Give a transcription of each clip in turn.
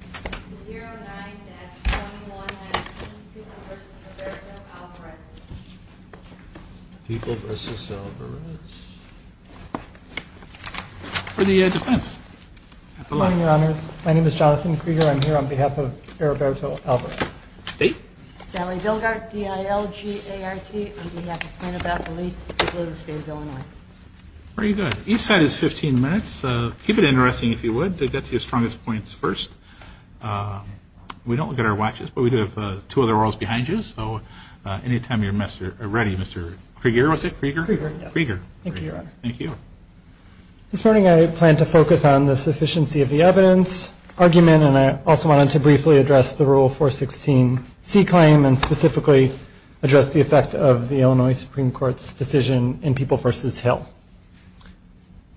for the defense. Good morning, your honors. My name is Jonathan Krueger. I'm here on behalf of Eriberto Alvarez. State? Sallie Bilgaert, DILGART, on behalf of Quinnipiac Elite. People of the State of Illinois. Very good. Each side is 15 minutes. Keep it interesting, if you would, to get to your strongest points first. We don't look at our watches, but we do have two other orals behind you, so any time you're ready, Mr. Krueger, was it? Krueger? Krueger, yes. Krueger. Thank you, your honor. Thank you. This morning I plan to focus on the sufficiency of the evidence argument, and I also wanted to briefly address the Rule 416C claim and specifically address the effect of the Illinois Supreme Court's decision in People v. Hill.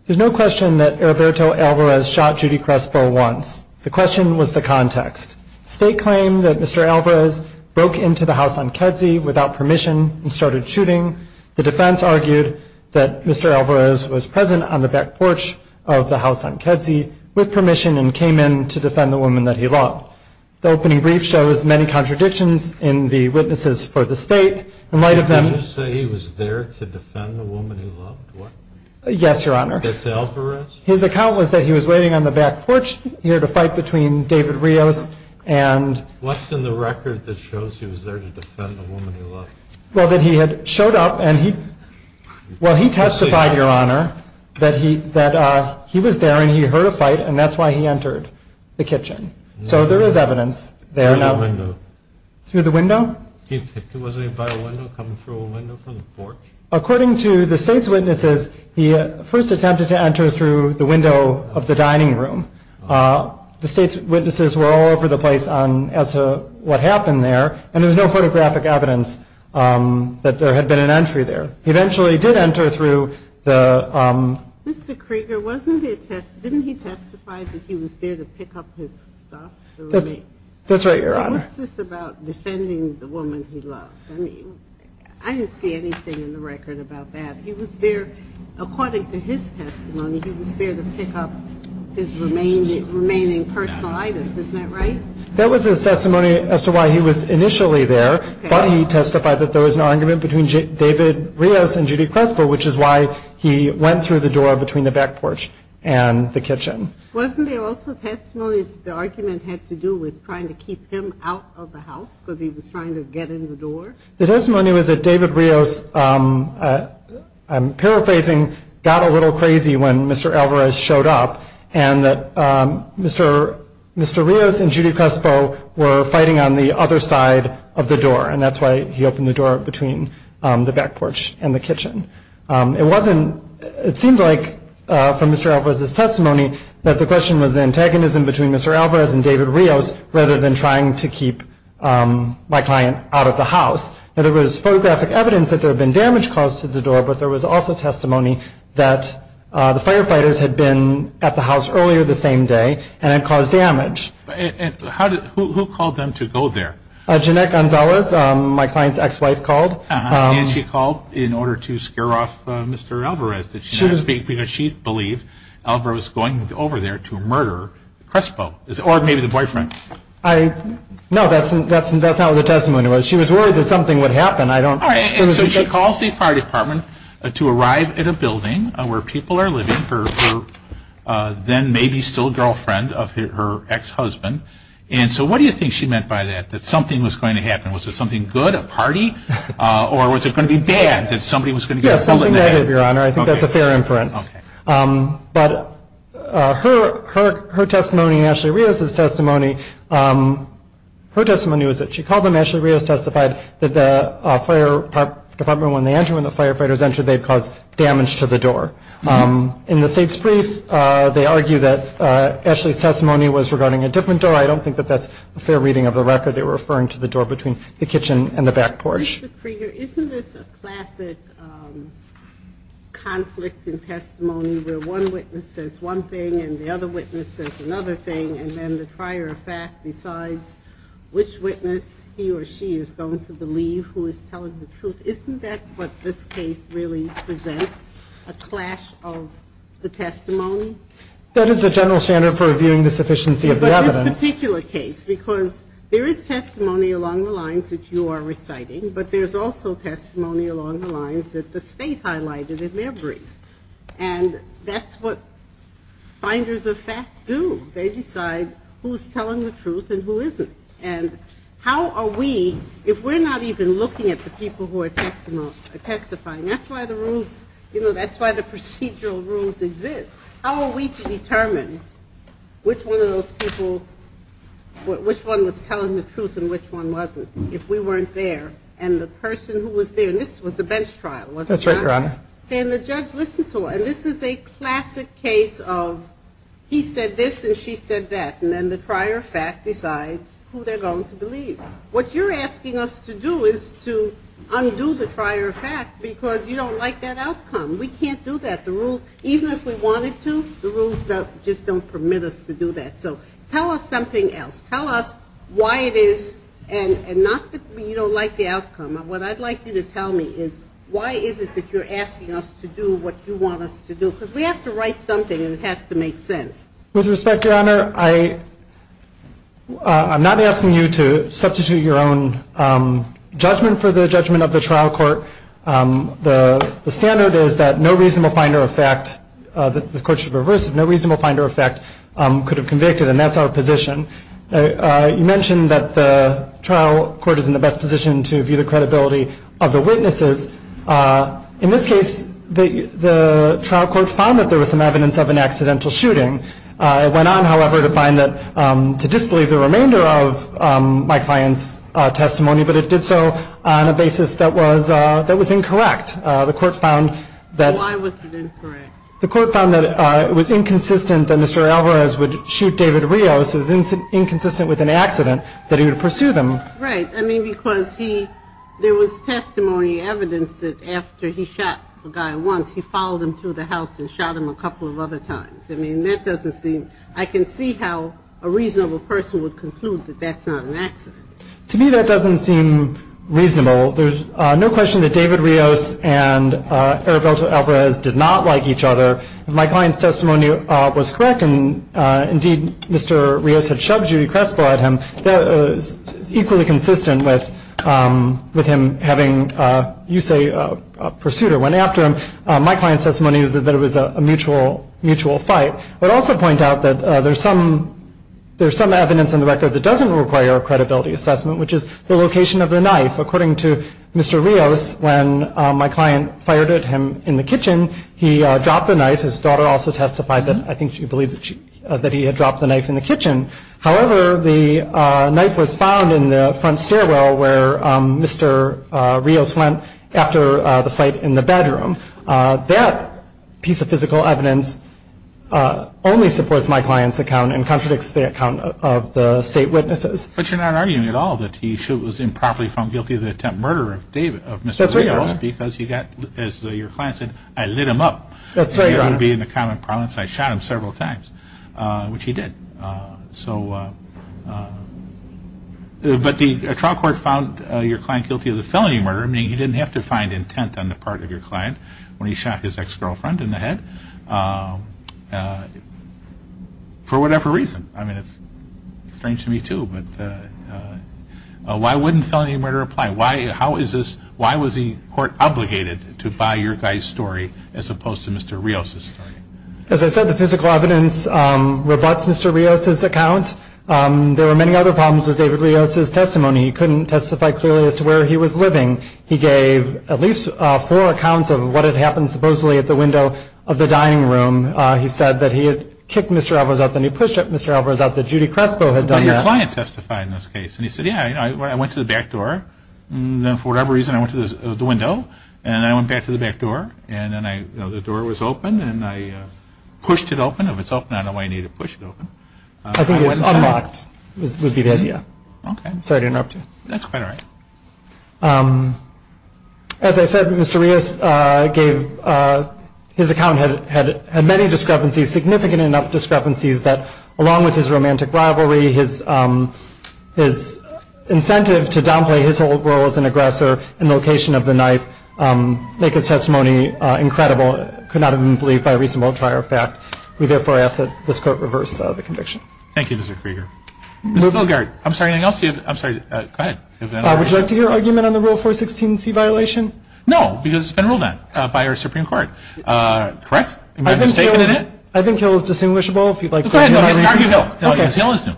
There's no question that Eriberto Alvarez shot Judy Crespo once. The question was the context. State claimed that Mr. Alvarez broke into the house on Kedzie without permission and started shooting. The defense argued that Mr. Alvarez was present on the back porch of the house on Kedzie with permission and came in to defend the woman that he loved. The opening brief shows many contradictions in the witnesses for the state. In light of them- Did you say he was there to defend the woman he loved? Yes, your honor. That's Alvarez? His account was that he was waiting on the back porch here to fight between David Rios and- What's in the record that shows he was there to defend the woman he loved? Well, that he had showed up and he- Well, he testified, your honor, that he was there and he heard a fight and that's why he entered the kitchen. So there is evidence there. Through the window. Through the window? Wasn't he by a window, coming through a window from the porch? According to the state's witnesses, he first attempted to enter through the window of the dining room. The state's witnesses were all over the place as to what happened there and there was no photographic evidence that there had been an entry there. He eventually did enter through the- Mr. Krieger, wasn't it- Didn't he testify that he was there to pick up his stuff? That's right, your honor. What's this about defending the woman he loved? I mean, I didn't see anything in the record about that. He was there, according to his testimony, he was there to pick up his remaining personal items. Isn't that right? That was his testimony as to why he was initially there, but he testified that there was an argument between David Rios and Judy Crespo, which is why he went through the door between the back porch and the kitchen. Wasn't there also testimony that the argument had to do with trying to keep him out of the house because he was trying to get in the door? The testimony was that David Rios, I'm paraphrasing, got a little crazy when Mr. Alvarez showed up and that Mr. Rios and Judy Crespo were fighting on the other side of the door and that's why he opened the door between the back porch and the kitchen. It seemed like from Mr. Alvarez's testimony that the question was antagonism between Mr. Alvarez and David Rios rather than trying to keep my client out of the house. There was photographic evidence that there had been damage caused to the door, but there was also testimony that the firefighters had been at the house earlier the same day and had caused damage. Who called them to go there? Jeanette Gonzalez, my client's ex-wife, called. And she called in order to scare off Mr. Alvarez because she believed Alvarez was going over there to murder Crespo or maybe the boyfriend. No, that's not what the testimony was. She was worried that something would happen. So she calls the fire department to arrive at a building where people are living for her then maybe still girlfriend of her ex-husband. So what do you think she meant by that, that something was going to happen? Was it something good, a party? Or was it going to be bad, that somebody was going to get pulled in the head? Yes, something negative, Your Honor. I think that's a fair inference. But her testimony, Ashley Rios' testimony, her testimony was that she called them. Ashley Rios testified that the fire department, when they entered, when the firefighters entered, they caused damage to the door. In the state's brief, they argue that Ashley's testimony was regarding a different door. I don't think that that's a fair reading of the record. They were referring to the door between the kitchen and the back porch. Mr. Krieger, isn't this a classic conflict in testimony where one witness says one thing and the other witness says another thing and then the prior fact decides which witness he or she is going to believe who is telling the truth? Isn't that what this case really presents, a clash of the testimony? That is the general standard for reviewing the sufficiency of the evidence. In this particular case, because there is testimony along the lines that you are reciting, but there's also testimony along the lines that the state highlighted in their brief. And that's what finders of fact do. They decide who's telling the truth and who isn't. And how are we, if we're not even looking at the people who are testifying, that's why the rules, you know, that's why the procedural rules exist. How are we to determine which one of those people, which one was telling the truth and which one wasn't if we weren't there and the person who was there, and this was a bench trial, wasn't it? That's right, Your Honor. And the judge listened to it. And this is a classic case of he said this and she said that and then the prior fact decides who they're going to believe. What you're asking us to do is to undo the prior fact because you don't like that outcome. We can't do that. The rules, even if we wanted to, the rules just don't permit us to do that. So tell us something else. Tell us why it is and not that you don't like the outcome. What I'd like you to tell me is why is it that you're asking us to do what you want us to do? Because we have to write something and it has to make sense. With respect, Your Honor, I'm not asking you to substitute your own judgment for the judgment of the trial court. The standard is that no reasonable finder of fact, the court should reverse it, no reasonable finder of fact could have convicted and that's our position. You mentioned that the trial court is in the best position to view the credibility of the witnesses. In this case, the trial court found that there was some evidence of an accidental shooting. It went on, however, to find that, to disbelieve the remainder of my client's testimony, but it did so on a basis that was incorrect. The court found that. Why was it incorrect? The court found that it was inconsistent that Mr. Alvarez would shoot David Rios. It was inconsistent with an accident that he would pursue them. Right. I mean, because he, there was testimony evidence that after he shot the guy once, he followed him through the house and shot him a couple of other times. I mean, that doesn't seem, I can see how a reasonable person would conclude that that's not an accident. To me, that doesn't seem reasonable. There's no question that David Rios and Arabelto Alvarez did not like each other. If my client's testimony was correct and, indeed, Mr. Rios had shoved Judy Crespo at him, that is equally consistent with him having, you say, a pursuer went after him. My client's testimony is that it was a mutual fight. I would also point out that there's some evidence in the record that doesn't require a credibility assessment, which is the location of the knife. According to Mr. Rios, when my client fired at him in the kitchen, he dropped the knife. His daughter also testified that I think she believed that he had dropped the knife in the kitchen. However, the knife was found in the front stairwell where Mr. Rios went after the fight in the bedroom. That piece of physical evidence only supports my client's account and contradicts the account of the state witnesses. But you're not arguing at all that he was improperly found guilty of the attempted murder of David, of Mr. Rios. That's right, Your Honor. Because he got, as your client said, I lit him up. That's right, Your Honor. He wouldn't be in the common parlance. I shot him several times, which he did. So, but the trial court found your client guilty of the felony murder, meaning he didn't have to find intent on the part of your client. When he shot his ex-girlfriend in the head, for whatever reason. I mean, it's strange to me, too. But why wouldn't felony murder apply? Why was the court obligated to buy your guy's story as opposed to Mr. Rios' story? As I said, the physical evidence rebuts Mr. Rios' account. There were many other problems with David Rios' testimony. He couldn't testify clearly as to where he was living. He gave at least four accounts of what had happened, supposedly, at the window of the dining room. He said that he had kicked Mr. Alvarez out, then he pushed Mr. Alvarez out, that Judy Crespo had done that. But your client testified in this case. And he said, yeah, I went to the back door, and then for whatever reason I went to the window, and then I went back to the back door. And then I, you know, the door was open, and I pushed it open. If it's open, I don't know why you need to push it open. I think it was unlocked, would be the idea. Okay. Sorry to interrupt you. That's quite all right. As I said, Mr. Rios gave his account had many discrepancies, significant enough discrepancies, that along with his romantic rivalry, his incentive to downplay his old role as an aggressor in the location of the knife make his testimony incredible, could not have been believed by a reasonable trial fact. We therefore ask that this Court reverse the conviction. Thank you, Mr. Krieger. Mr. Stilgart, I'm sorry, anything else you have? I'm sorry, go ahead. Would you like to hear an argument on the Rule 416C violation? No, because it's been ruled on by our Supreme Court. Correct? Am I mistaken in that? I think Hill is distinguishable, if you'd like to argue. Go ahead and argue Hill, because Hill is new.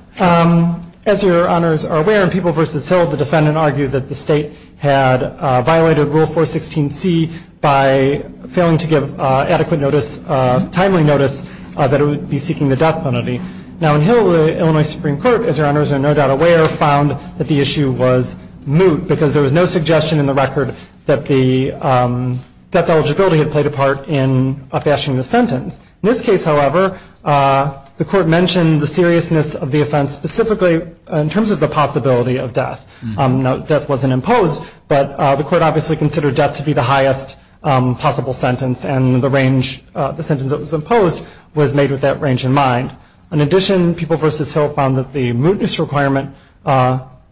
As your honors are aware, in People v. Hill, the defendant argued that the state had violated Rule 416C by failing to give adequate notice, timely notice, that it would be seeking the death penalty. Now, in Hill, the Illinois Supreme Court, as your honors are no doubt aware, found that the issue was moot, because there was no suggestion in the record that the death eligibility had played a part in a fashion of the sentence. In this case, however, the Court mentioned the seriousness of the offense, specifically in terms of the possibility of death. Now, death wasn't imposed, but the Court obviously considered death to be the highest possible sentence, and the sentence that was imposed was made with that range in mind. In addition, People v. Hill found that the mootness requirement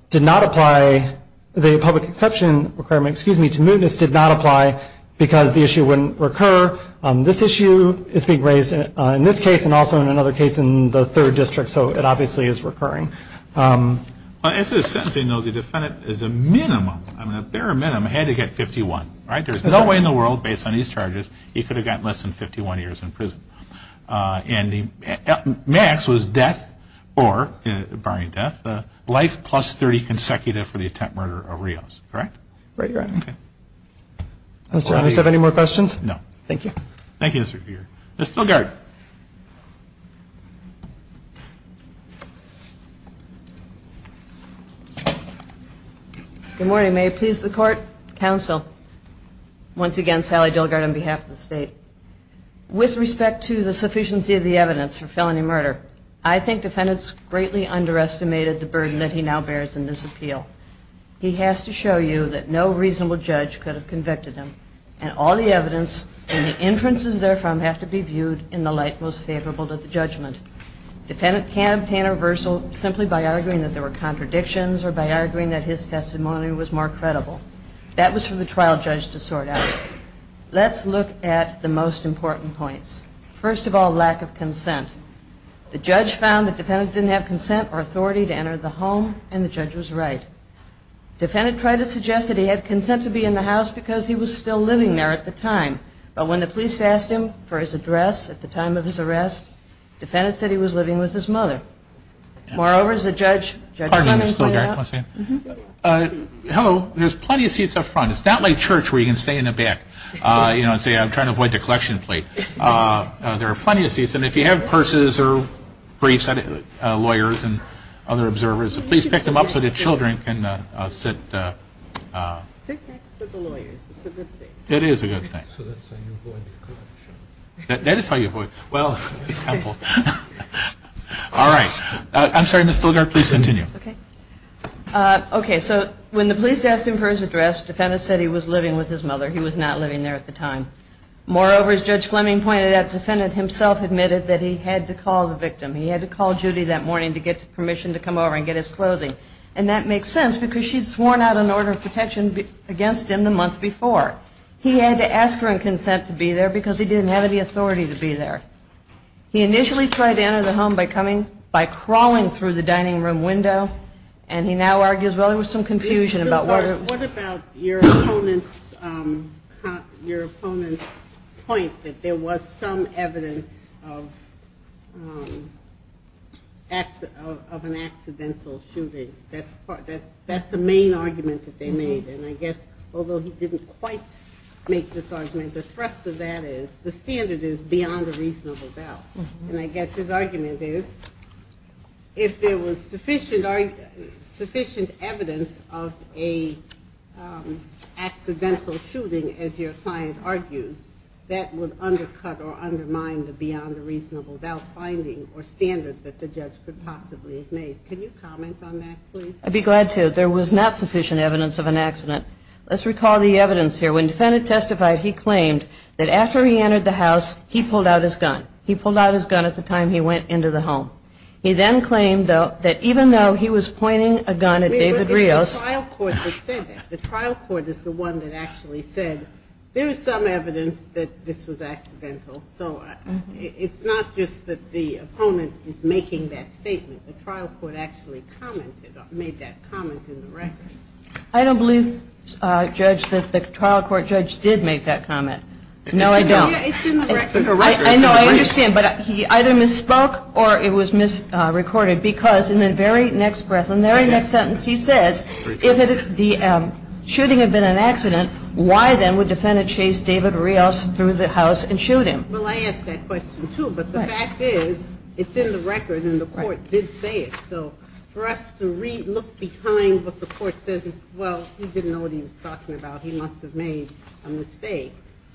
did not apply, the public exception requirement, excuse me, to mootness did not apply, because the issue wouldn't recur. This issue is being raised in this case and also in another case in the third district, so it obviously is recurring. As to the sentencing, though, the defendant is a minimum, I mean a bare minimum, had to get 51. Right? There's no way in the world, based on these charges, he could have gotten less than 51 years in prison. And the max was death or, barring death, life plus 30 consecutive for the attempt murder of Rios. Correct? Right, Your Honor. Okay. Does the witness have any more questions? No. Thank you. Thank you, Mr. Grier. Ms. Stilgart. Good morning. May it please the court, counsel, once again, Sally Dillgard on behalf of the state. With respect to the sufficiency of the evidence for felony murder, I think defendants greatly underestimated the burden that he now bears in this appeal. He has to show you that no reasonable judge could have convicted him, and all the evidence and the inferences therefrom have to be viewed in the same light. Defendant can't obtain a reversal simply by arguing that there were contradictions or by arguing that his testimony was more credible. That was for the trial judge to sort out. Let's look at the most important points. First of all, lack of consent. The judge found that defendant didn't have consent or authority to enter the home, and the judge was right. Defendant tried to suggest that he had consent to be in the house because he was still living there at the time. But when the police asked him for his address at the time of his arrest, defendant said he was living with his mother. Moreover, as the judge, Judge Clement, pointed out. Hello. There's plenty of seats up front. It's not like church where you can stay in the back, you know, and say I'm trying to avoid the collection plate. There are plenty of seats, and if you have purses or briefs, lawyers and other observers, please pick them up so the children can sit. I think that's for the lawyers. It's a good thing. It is a good thing. So that's how you avoid the collection. That is how you avoid it. Well, it's helpful. All right. I'm sorry, Ms. Stillgard, please continue. Okay. So when the police asked him for his address, defendant said he was living with his mother. He was not living there at the time. Moreover, as Judge Fleming pointed out, defendant himself admitted that he had to call the victim. He had to call Judy that morning to get permission to come over and get his clothing. And that makes sense because she'd sworn out an order of protection against him the month before. He had to ask her and consent to be there because he didn't have any authority to be there. He initially tried to enter the home by crawling through the dining room window, and he now argues, well, there was some confusion about whether it was. Your opponents point that there was some evidence of an accidental shooting. That's a main argument that they made. And I guess although he didn't quite make this argument, the thrust of that is the standard is beyond a reasonable doubt. And I guess his argument is if there was sufficient evidence of an accidental shooting, as your client argues, that would undercut or undermine the beyond a reasonable doubt finding or standard that the judge could possibly have made. Can you comment on that, please? I'd be glad to. There was not sufficient evidence of an accident. Let's recall the evidence here. When the defendant testified, he claimed that after he entered the house, he pulled out his gun. He pulled out his gun at the time he went into the home. He then claimed, though, that even though he was pointing a gun at David Rios... It was the trial court that said that. The trial court is the one that actually said there is some evidence that this was accidental. So it's not just that the opponent is making that statement. The trial court actually commented or made that comment in the record. I don't believe, Judge, that the trial court judge did make that comment. No, I don't. It's in the record. I know. I understand. But he either misspoke or it was misrecorded because in the very next breath, in the very next sentence, he says, if the shooting had been an accident, why then would defendant chase David Rios through the house and shoot him? Well, I ask that question, too. But the fact is it's in the record and the court did say it. So for us to look behind what the court says is, well, he didn't know what he was talking about. He must have made a mistake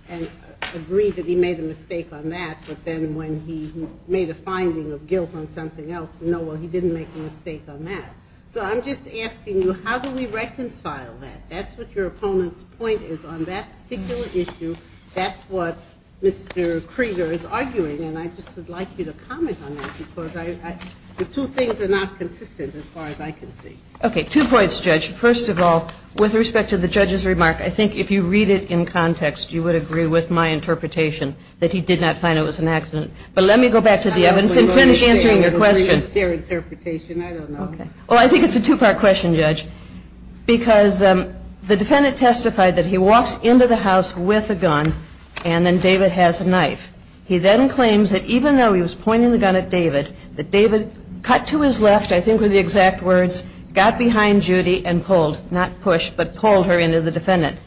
and agreed that he made a mistake on that. But then when he made a finding of guilt on something else, no, well, he didn't make a mistake on that. So I'm just asking you, how do we reconcile that? That's what your opponent's point is on that particular issue. That's what Mr. Krieger is arguing. And I just would like you to comment on that because the two things are not consistent as far as I can see. Okay. Two points, Judge. First of all, with respect to the judge's remark, I think if you read it in context, you would agree with my interpretation that he did not find it was an accident. But let me go back to the evidence and finish answering your question. I don't know. Okay. Well, I think it's a two-part question, Judge, because the defendant testified that he walks into the house with a gun and then David has a knife. He then claims that even though he was pointing the gun at David, that David cut to his left, I think were the exact words, got behind Judy and pulled, not pushed, but pulled her into the defendant.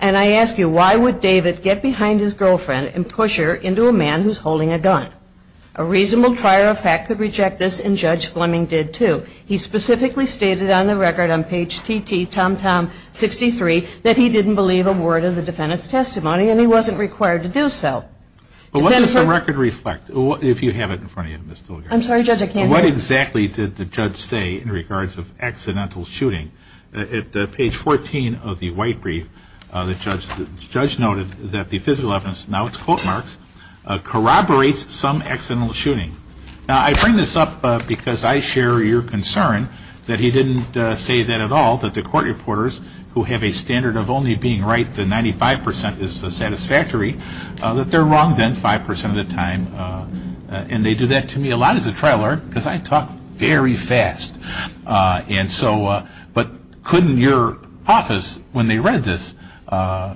And I ask you, why would David get behind his girlfriend and push her into a man who's holding a gun? A reasonable prior effect could reject this, and Judge Fleming did, too. He specifically stated on the record on page TT, tom-tom 63, that he didn't believe a word of the defendant's testimony and he wasn't required to do so. But what does the record reflect, if you have it in front of you, Ms. Dillinger? I'm sorry, Judge, I can't hear you. What exactly did the judge say in regards of accidental shooting? At page 14 of the white brief, the judge noted that the physical evidence, now it's quote marks, corroborates some accidental shooting. Now, I bring this up because I share your concern that he didn't say that at all, that the court reporters who have a standard of only being right that 95 percent is satisfactory, that they're wrong then 5 percent of the time. And they do that to me a lot as a trial lawyer because I talk very fast. And so, but couldn't your office, when they read this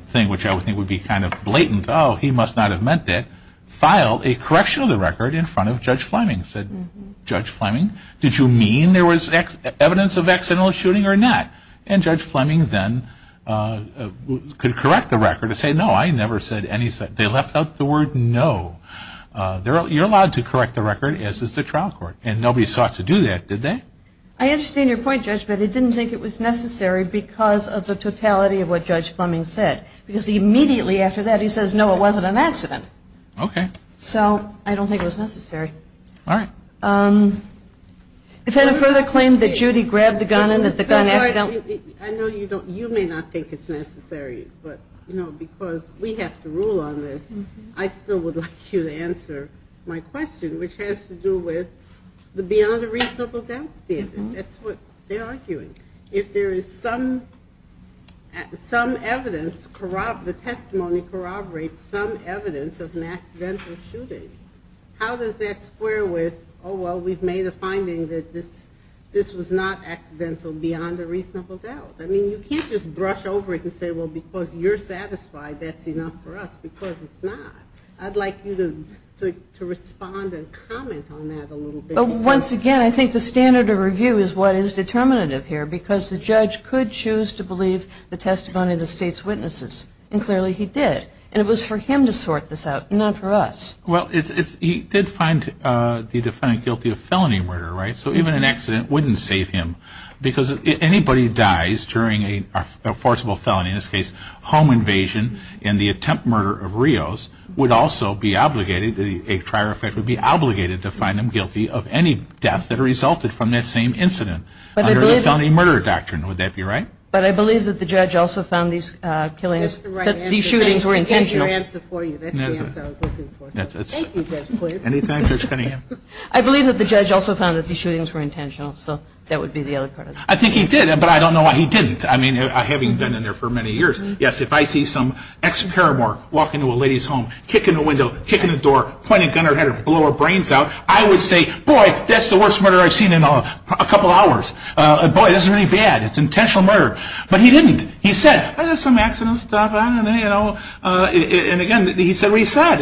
thing, which I would think would be kind of blatant, oh, he must not have meant that, file a correction of the record in front of Judge Fleming, said, Judge Fleming, did you mean there was evidence of accidental shooting or not? And Judge Fleming then could correct the record and say, no, I never said any, they left out the word no. You're allowed to correct the record, as is the trial court. And nobody sought to do that, did they? I understand your point, Judge, but I didn't think it was necessary because of the totality of what Judge Fleming said. Because immediately after that he says, no, it wasn't an accident. Okay. So I don't think it was necessary. All right. Defendant, further claim that Judy grabbed the gun and that the gun accidentally I know you don't, you may not think it's necessary, but, you know, because we have to rule on this. I still would like you to answer my question, which has to do with the beyond a reasonable doubt standard. That's what they're arguing. If there is some, some evidence, the testimony corroborates some evidence of an accidental shooting, how does that square with, oh, well, we've made a finding that this was not accidental beyond a reasonable doubt? I mean, you can't just brush over it and say, well, because you're satisfied, that's enough for us, because it's not. I'd like you to respond and comment on that a little bit. Once again, I think the standard of review is what is determinative here, because the judge could choose to believe the testimony of the State's witnesses, and clearly he did. And it was for him to sort this out, not for us. Well, he did find the defendant guilty of felony murder, right? So even an accident wouldn't save him, because if anybody dies during a forcible felony, in this case home invasion in the attempt murder of Rios, would also be obligated, a prior effect would be obligated to find them guilty of any death that resulted from that same incident. Under the felony murder doctrine, would that be right? But I believe that the judge also found these killings, these shootings were intentional. That's our answer for you. That's the answer I was looking for. Thank you, Judge Quigley. Any time, Judge Cunningham. I believe that the judge also found that these shootings were intentional, so that would be the other part of it. I think he did, but I don't know why he didn't. I mean, having been in there for many years, yes, if I see some ex-paramore walk into a lady's home, kick in the window, kick in the door, point a gun at her, blow her brains out, I would say, boy, that's the worst murder I've seen in a couple hours. Boy, this is really bad. It's intentional murder. But he didn't. He said, oh, there's some accidents and stuff. I don't know. And, again, he said what he said.